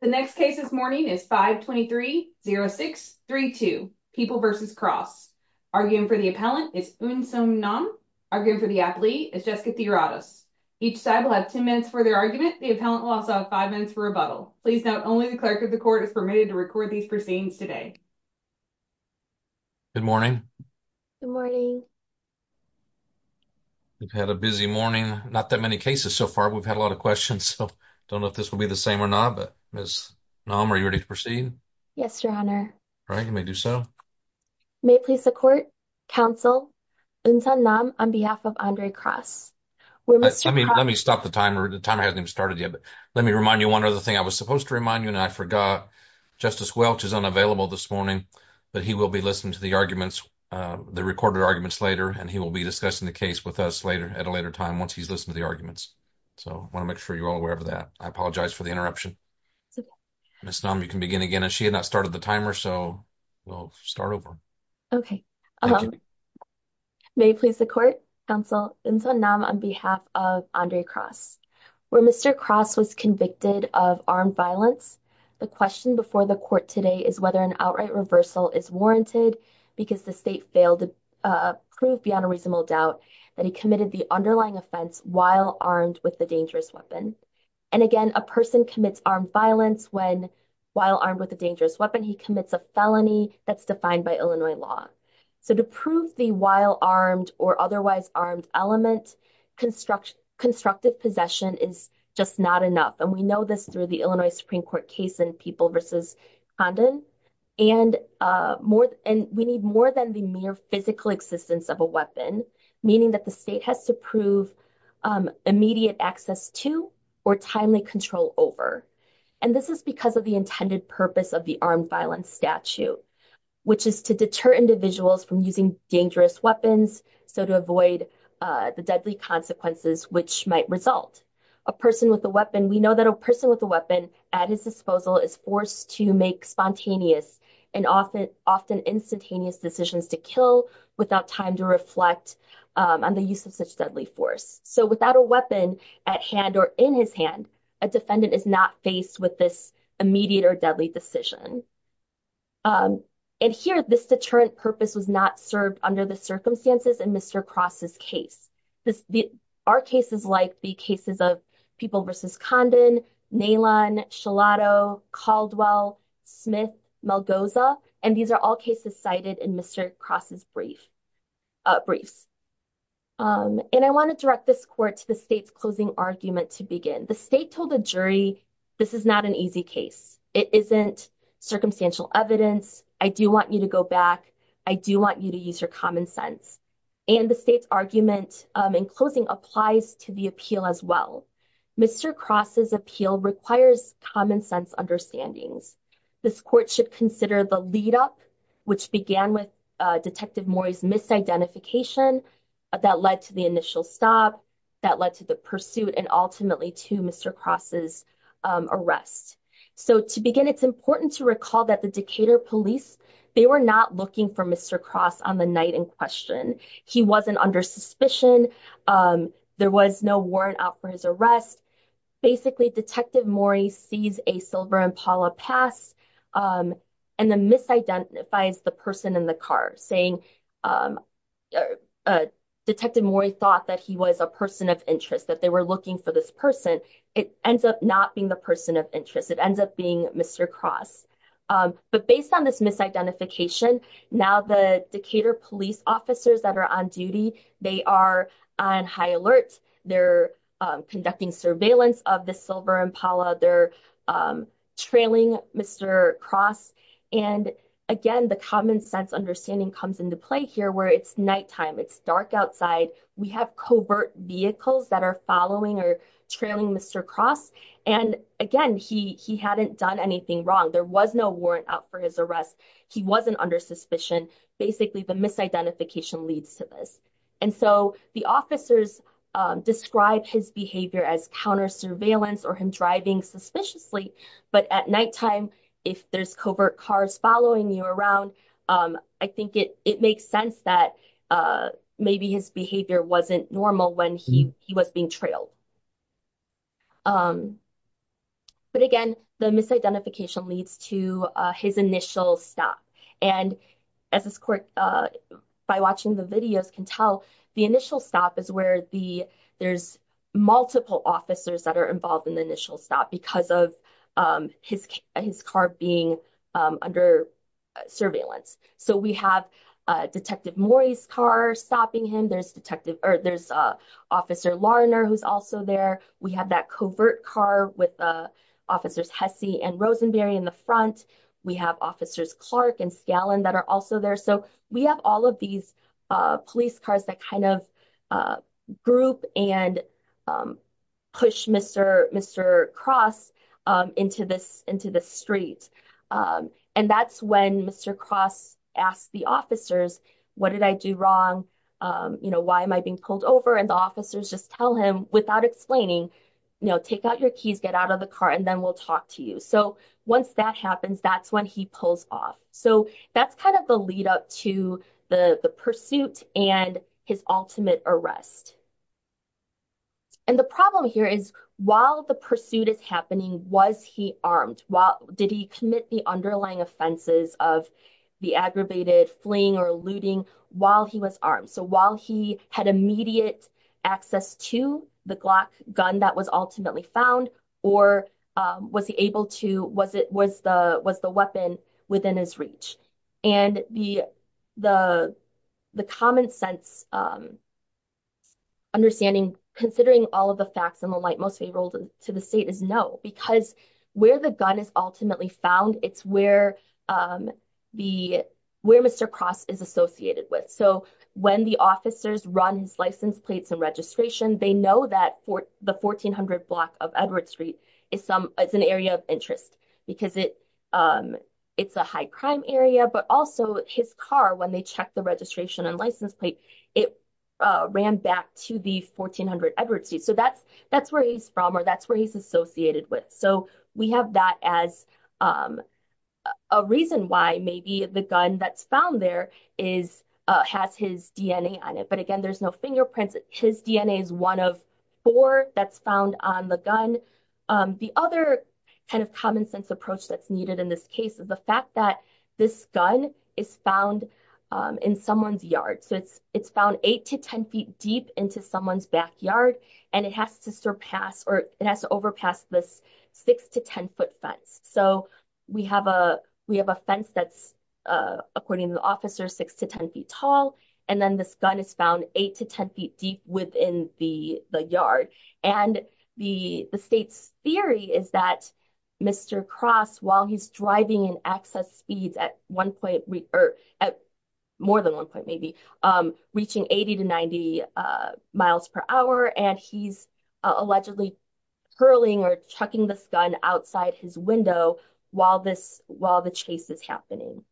The next case this morning is 523-06-32, People v. Cross. Arguing for the appellant is Eun Seong Nam. Arguing for the athlete is Jessica Theoratos. Each side will have 10 minutes for their argument. The appellant will also have 5 minutes for rebuttal. Please note, only the clerk of the court is permitted to record these proceedings today. Good morning. Good morning. We've had a busy morning. Not that many cases so far. We've had a lot of questions, so I don't know if this will be the same or not, but Ms. Nam, are you ready to proceed? Yes, Your Honor. All right, you may do so. May it please the court, counsel, Eun Seong Nam on behalf of Andre Cross. I mean, let me stop the timer. The timer hasn't even started yet, but let me remind you one other thing. I was supposed to remind you, and I forgot. Justice Welch is unavailable this morning, but he will be listening to the recorded arguments later, and he will be discussing the case with us at a later time once he's listened to the arguments. So I want to make sure you're all aware of that. I apologize for the interruption. Ms. Nam, you can begin again. She had not started the timer, so we'll start over. Okay. May it please the court, counsel, Eun Seong Nam on behalf of Andre Cross. Where Mr. Cross was convicted of armed violence, the question before the court today is whether an outright reversal is warranted because the state failed to prove beyond a reasonable doubt that he committed the underlying offense while armed with a dangerous weapon. And again, a person commits armed violence when, while armed with a dangerous weapon, he commits a felony that's defined by Illinois law. So to prove the while armed or otherwise armed element, constructive possession is just not enough. And we know this through the Illinois Supreme Court case in People v. Condon. And we need more than the mere physical existence of a weapon, meaning that the state has to prove immediate access to or timely control over. And this is because of the intended purpose of the armed violence statute, which is to deter individuals from using dangerous weapons, so to avoid the deadly consequences which might result. A person with a weapon, we know that a person with a weapon at his disposal is forced to make spontaneous and often instantaneous decisions to kill without time to reflect on the use of such deadly force. So without a weapon at hand or in his hand, a defendant is not faced with this immediate or deadly decision. And here, this deterrent purpose was not served under the circumstances in Mr. Cross' case. Our cases like the cases of People v. Condon, Nalon, Shilato, Caldwell, Smith, Melgoza, and these are all cases cited in Mr. Cross' briefs. And I want to direct this court to the state's closing argument to begin. The state told the jury, this is not an easy case. It isn't circumstantial evidence. I do want you to go back. I do want you to use your common sense. And the state's argument in closing applies to the appeal as well. Mr. Cross' appeal requires common sense understandings. This court should consider the lead up, which began with Detective Mori's misidentification that led to the initial stop, that led to the pursuit and ultimately to Mr. Cross' arrest. So to begin, it's important to recall that the Decatur police, they were not looking for Mr. Cross on the night in question. He wasn't under suspicion. There was no warrant out for his arrest. Basically, Detective Mori sees a silver Impala pass and then misidentifies the person in the car, saying Detective Mori thought that he was a person of interest, that they were looking for this person. It ends up not being the person of interest. It ends up being Mr. Cross. But based on this misidentification, now the Decatur police officers that are on duty, they are on high alert. They're conducting surveillance of the silver Impala. They're trailing Mr. Cross. And again, the common sense understanding comes into play here where it's nighttime, it's dark outside. We have covert vehicles that are following or trailing Mr. Cross. And again, he hadn't done anything wrong. There was no warrant out for his arrest. He wasn't under suspicion. Basically, the misidentification leads to this. And so the officers describe his behavior as counter surveillance or him driving suspiciously. But at nighttime, if there's covert cars following you around, I think it makes sense that maybe his behavior wasn't normal when he was being trailed. But again, the misidentification leads to his initial stop. And as this court, by watching the videos can tell, the initial stop is where there's multiple officers that are involved in the initial stop because of his car being under surveillance. So we have Detective Morey's car stopping him. There's Officer Larner, who's also there. We have that covert car with Officers Hessey and Rosenberry in the front. We have Officers Clark and Scallon that are also there. So we have all of these police cars that kind of group and push Mr. Cross into the street. And that's when Mr. Cross asked the officers, what did I do wrong? You know, why am I being pulled over? And the officers just tell him without explaining, you know, take out your keys, get out of the car, and then we'll talk to you. So once that happens, that's when he pulls off. So that's kind of the lead up to the pursuit and his ultimate arrest. And the problem here is while the pursuit is happening, was he armed? Did he commit the underlying offenses of the aggravated fleeing or looting while he was armed? So while he had immediate access to the Glock gun that was ultimately found or was the weapon within his reach? And the common sense understanding, considering all of the facts and the light most favorable to the state is no, because where the gun is ultimately found, it's where Mr. Cross is associated with. So when the officers run his license plates and registration, they know that the 1400 block of Edward Street is an area of interest because it's a high crime area, but also his car, when they check the registration and license plate, it ran back to the 1400 Edward Street. So that's where he's from or that's where he's associated with. So we have that as a reason why maybe the gun that's found there has his DNA on it. But again, there's no fingerprints. His DNA is one of four that's found on the gun. The other kind of common sense approach that's needed in this case is the fact that this gun is found in someone's yard. So it's found eight to 10 feet deep into someone's backyard, and it has to surpass or it has to overpass this six to 10 foot fence. So we have a fence that's, according to the officer, six to 10 feet tall. And then this gun is found eight to 10 feet deep within the yard. And the state's theory is that Mr. Cross, while he's driving in excess speeds at one point or at more than one point, maybe, reaching 80 to 90 miles per hour, and he's allegedly hurling or chucking this gun outside his window while the chase is happening.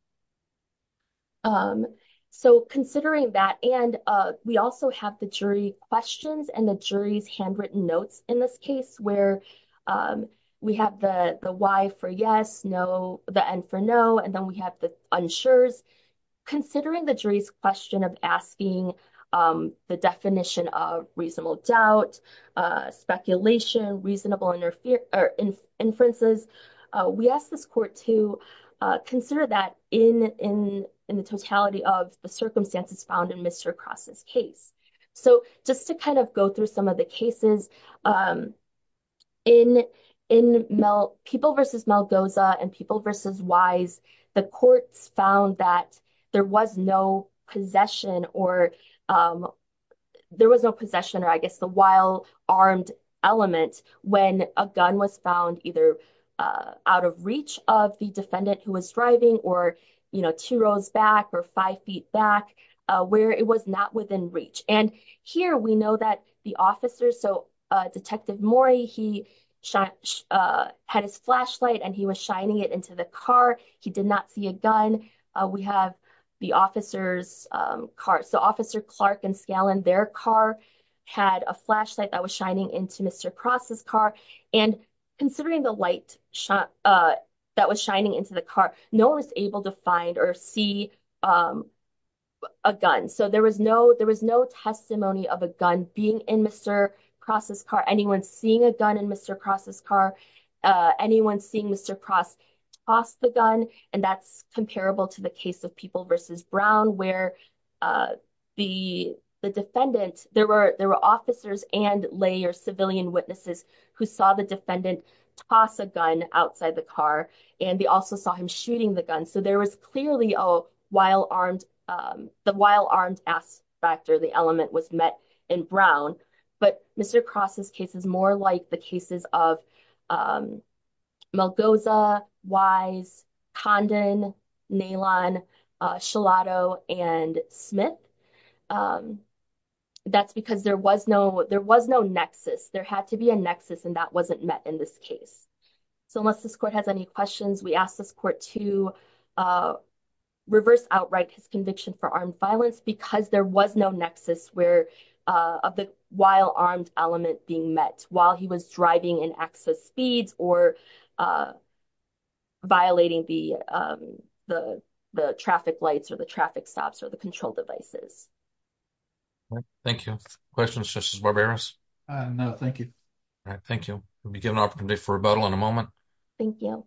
So considering that, and we also have the jury questions and the jury's handwritten notes in this case, where we have the why for yes, no, the and for no, and then we have the unsures. Considering the jury's question of asking the definition of reasonable doubt, speculation, reasonable inferences, we ask this court to consider that in the totality of the circumstances found in Mr. Cross's case. So just to kind of go through some of the cases, in People v. Malgoza and People v. Wise, the courts found that there was no possession or, there was no possession or, I guess, the while armed element when a gun was found either out of reach of the defendant who was driving or, you know, two rows back or five feet back, where it was not within reach. And here we know that the officer, so Detective Morey, he had his flashlight and he was shining it into the car. He did not see a gun. We have the officer's car, so Officer Clark and Scallon, their car had a flashlight that was shining into Mr. Cross's car. And considering the light that was shining into the car, no one was able to find or see a gun. So there was no testimony of a gun being in Mr. Cross's car. Anyone seeing a gun in Mr. Cross's car, anyone seeing Mr. Cross toss the gun, and that's comparable to the case of People v. Brown where the defendant, there were officers and lay or civilian witnesses who saw the defendant toss a gun outside the car and they also saw him shooting the gun. So there was clearly a while-armed, the while-armed aspect or the element was met in Brown. But Mr. Cross's case is more like the cases of Malgoza, Wise, Condon, Nalon, Shilato, and Smith. That's because there was no nexus. There had to be a nexus and that wasn't met in this case. So unless this court has any questions, we ask this court to reverse outright his conviction for armed violence because there was no nexus of the while-armed element being met while he was driving in excess speeds or violating the traffic lights or the traffic stops or the control devices. All right, thank you. Questions, Justice Barberos? No, thank you. All right, thank you. Let me give an opportunity for rebuttal in a moment. Thank you.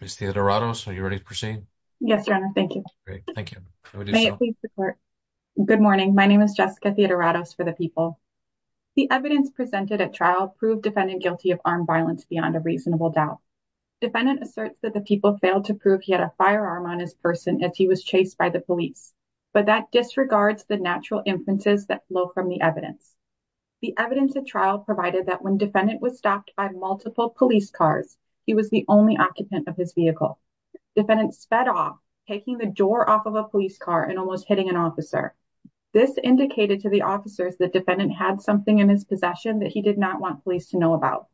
Ms. Theodoratos, are you ready to proceed? Yes, Your Honor, thank you. Great, thank you. May it please the court. Good morning. My name is Jessica Theodoratos for the People. The evidence presented at trial proved defendant guilty of armed violence beyond a reasonable doubt. Defendant asserts that the people failed to prove he had a firearm on his person as he was chased by the police, but that disregards the natural influences that flow from the evidence. The evidence at trial provided that when defendant was stopped by multiple police cars, he was the only occupant of his vehicle. Defendant sped off, taking the door off of a police car and almost hitting an officer. This indicated to the officers that defendant had something in his possession that he did not want police to know about.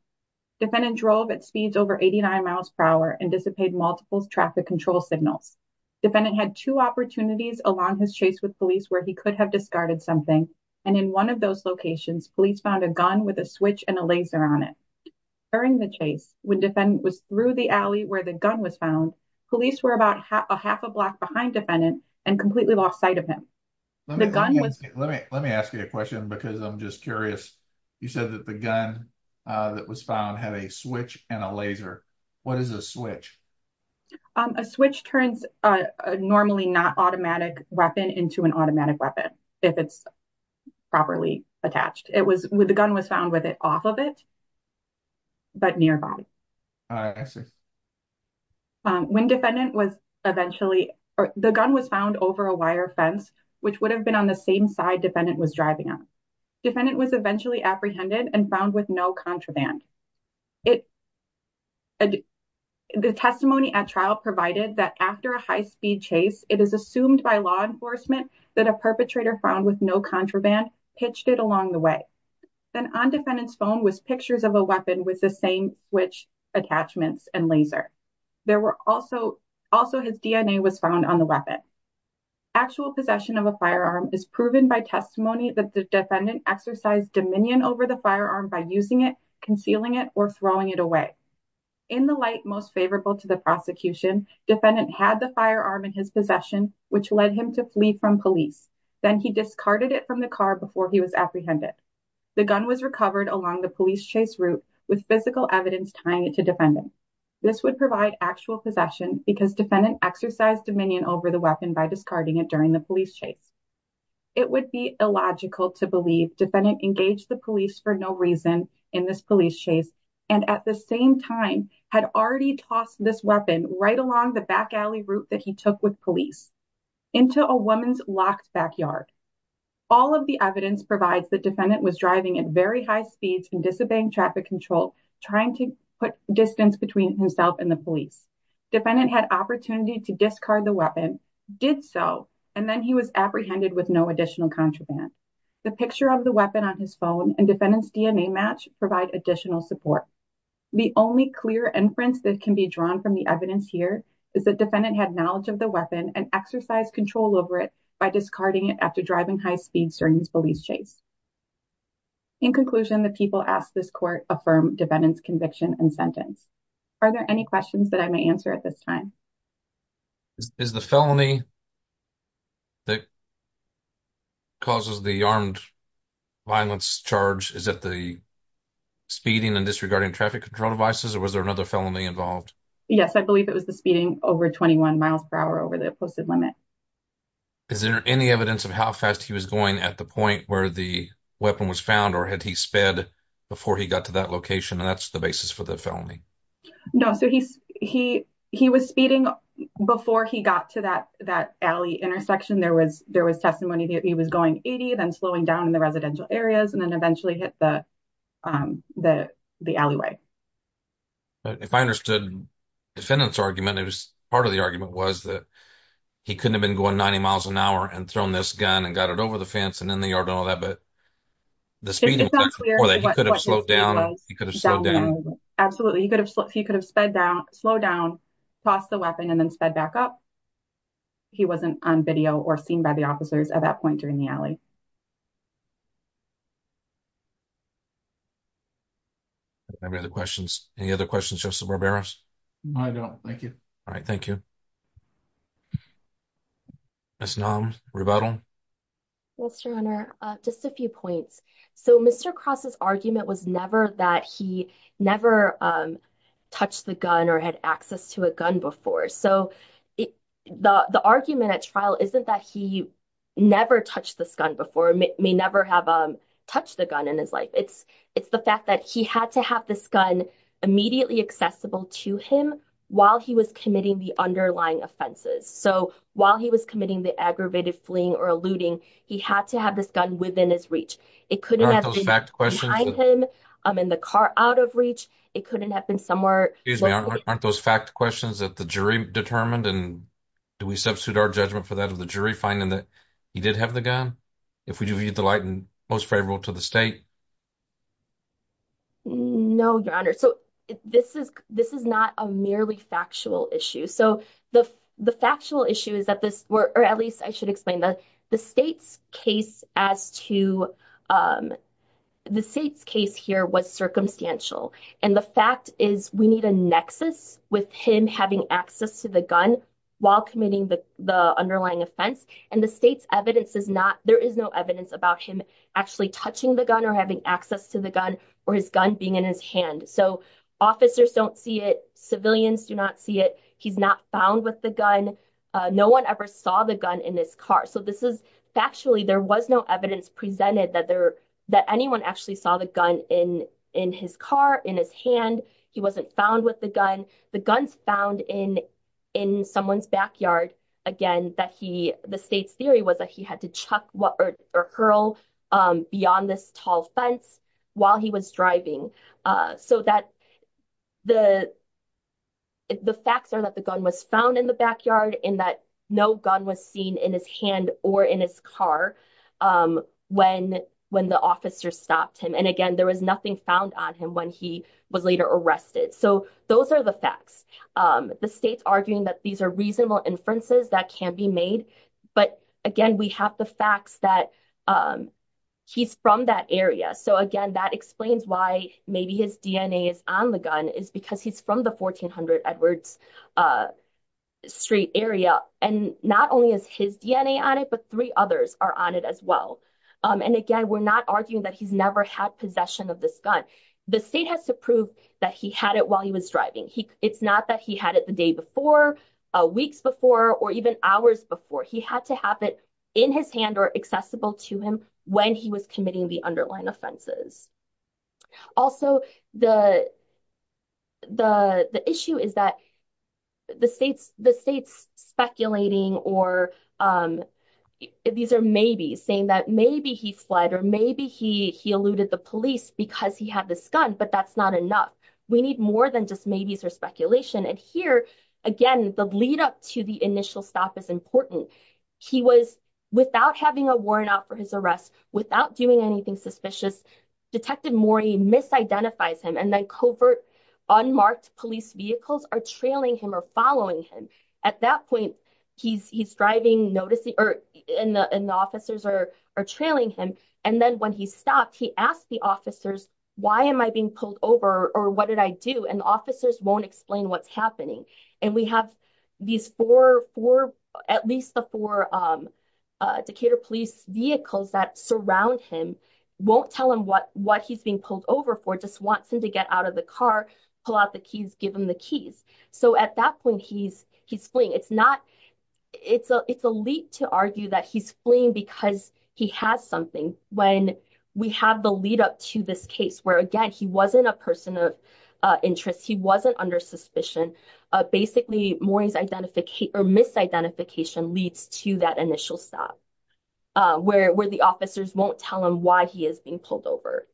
Defendant drove at speeds over 89 miles per hour and dissipated multiple traffic control signals. Defendant had two opportunities along his chase with police where he could have discarded something and in one of those locations, police found a gun with a switch and a laser on it. During the chase, when defendant was through the alley where the gun was found, police were about a half a block behind defendant and completely lost sight of him. Let me ask you a question because I'm just curious. You said that the gun that was found had a switch and a laser. What is a switch? A switch turns a normally not automatic weapon into an automatic weapon if it's properly attached. It was when the gun was found with it off of it, but nearby. When defendant was eventually, the gun was found over a wire fence which would have been on the same side defendant was driving on. Defendant was eventually apprehended and found with no contraband. The testimony at trial provided that after a high-speed chase, it is assumed by law enforcement that a perpetrator found with no contraband pitched it along the way. Then on defendant's phone was pictures of a weapon with the same switch attachments and laser. Also, his DNA was found on the weapon. Actual possession of a firearm is proven by testimony that the defendant exercised dominion over the firearm by using it, concealing it, or throwing it away. In the light most favorable to the prosecution, defendant had the firearm in his possession, which led him to flee from police. Then he discarded it from the car before he was apprehended. The gun was recovered along the police chase route with physical evidence tying it to defendant. This would provide actual possession because defendant exercised dominion over the weapon by discarding it during the police chase. It would be illogical to believe defendant engaged the police for no reason in this police chase and at the same time had already tossed this weapon right along the back alley route that he took with police into a woman's locked backyard. All of the evidence provides that defendant was driving at very high speeds and disobeying traffic control trying to put distance between himself and the police. Defendant had opportunity to discard the weapon, did so, and then he was apprehended with no additional contraband. The picture of the weapon on his phone and defendant's DNA match provide additional support. The only clear inference that can be drawn from the evidence here is that defendant had knowledge of the weapon and exercised control over it by discarding it after driving high speeds during this police chase. In conclusion, the people asked this court affirm defendant's conviction and sentence. Are there any questions that I may answer at this time? Is the felony that causes the armed violence charge is that the speeding and disregarding traffic control devices or was there another felony involved? Yes, I believe it was the speeding over 21 miles per hour over the posted limit. Is there any evidence of how fast he was going at the point where the weapon was found or had he sped before he got to that location? And that's the basis for the felony. No, so he was speeding before he got to that alley intersection. There was testimony that he was going 80 then slowing down in the residential areas and then eventually hit the alleyway. If I understood defendant's argument, it was part of the argument was that he couldn't have been going 90 miles an hour and thrown this gun and got it over the fence and in the yard and all that, but the speeding could have slowed down. Absolutely, he could have sped down, slowed down, tossed the weapon and then sped back up. He wasn't on video or seen by the officers at that point during the alley. I don't have any other questions. Any other questions, Justice Barberos? I don't, thank you. All right, thank you. Ms. Nam, rebuttal? Yes, Your Honor. Just a few points. So Mr. Cross's argument was never that he never touched the gun or had access to a gun before. So the argument at trial isn't that he never touched this gun before, may never have touched the gun in his life. It's the fact that he had to have this gun immediately accessible to him while he was committing the underlying offenses. So while he was committing the aggravated fleeing or a looting, he had to have this gun within his reach. It couldn't have been behind him, in the car, out of reach. It couldn't have been somewhere- Excuse me, aren't those fact questions that the jury determined? And do we substitute our judgment for that of the jury finding that he did have the gun? If we do, would you delight in most favorable to the state? No, Your Honor. So this is not a merely factual issue. So the factual issue is that this- or at least I should explain that the state's case as to- the state's case here was circumstantial. And the fact is we need a nexus with him having access to the gun while committing the underlying offense. And the state's evidence is not- there is no evidence about him actually touching the gun or having access to the gun or his gun being in his hand. So officers don't see it. Civilians do not see it. He's not found with the gun. No one ever saw the gun in his car. So this is factually- there was no evidence presented that anyone actually saw the gun in his car, in his hand. He wasn't found with the gun. The gun's found in someone's backyard. Again, the state's theory was that he had to chuck or hurl beyond this tall fence while he was driving. So the facts are that the gun was found in the backyard and that no gun was seen in his hand or in his car when the officer stopped him. And again, there was nothing found on him when he was later arrested. So those are the facts. The state's arguing that these are reasonable inferences that can be made. But again, we have the facts that he's from that area. So again, that explains why maybe his DNA is on the gun is because he's from the 1400 Edwards Street area. And not only is his DNA on it, but three others are on it as well. And again, we're not arguing that he's never had possession of this gun. The state has to prove that he had it while he was driving. It's not that he had it the day before, weeks before, or even hours before. He had to have it in his hand or accessible to him when he was committing the underlying offenses. Also, the issue is that the state's speculating or these are maybe saying that maybe he fled or maybe he eluded the police because he had this gun, but that's not enough. We need more than just maybes or speculation. And here, again, the lead up to the initial stop is important. He was without having a warrant out for his arrest, without doing anything suspicious. Detective Morey misidentifies him and then covert unmarked police vehicles are trailing him or following him. At that point, he's driving, noticing and the officers are trailing him. And then when he stopped, he asked the officers, why am I being pulled over or what did I do? And officers won't explain what's happening. And we have these four, at least the four Decatur police vehicles that surround him, won't tell him what he's being pulled over for, just wants him to get out of the car, pull out the keys, give him the keys. So at that point, he's fleeing. It's not, it's a leap to argue that he's fleeing because he has something when we have the lead up to this case, where again, he wasn't a person of interest. He wasn't under suspicion. Basically, Morey's identification or misidentification leads to that initial stop, where the officers won't tell him why he is being pulled over.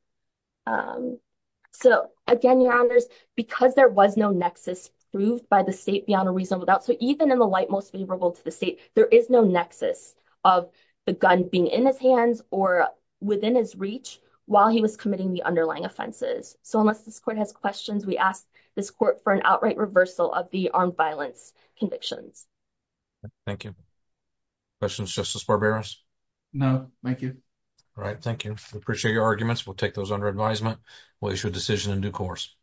So again, your honors, because there was no nexus proved by the state beyond a reasonable doubt. So even in the light, most favorable to the state, there is no nexus of the gun being in his hands or within his reach while he was committing the underlying offenses. So unless this court has questions, we ask this court for an outright reversal of the armed violence convictions. Thank you. Questions, Justice Barberos? No, thank you. All right, thank you. We appreciate your arguments. We'll take those under advisement. We'll issue a decision in due course.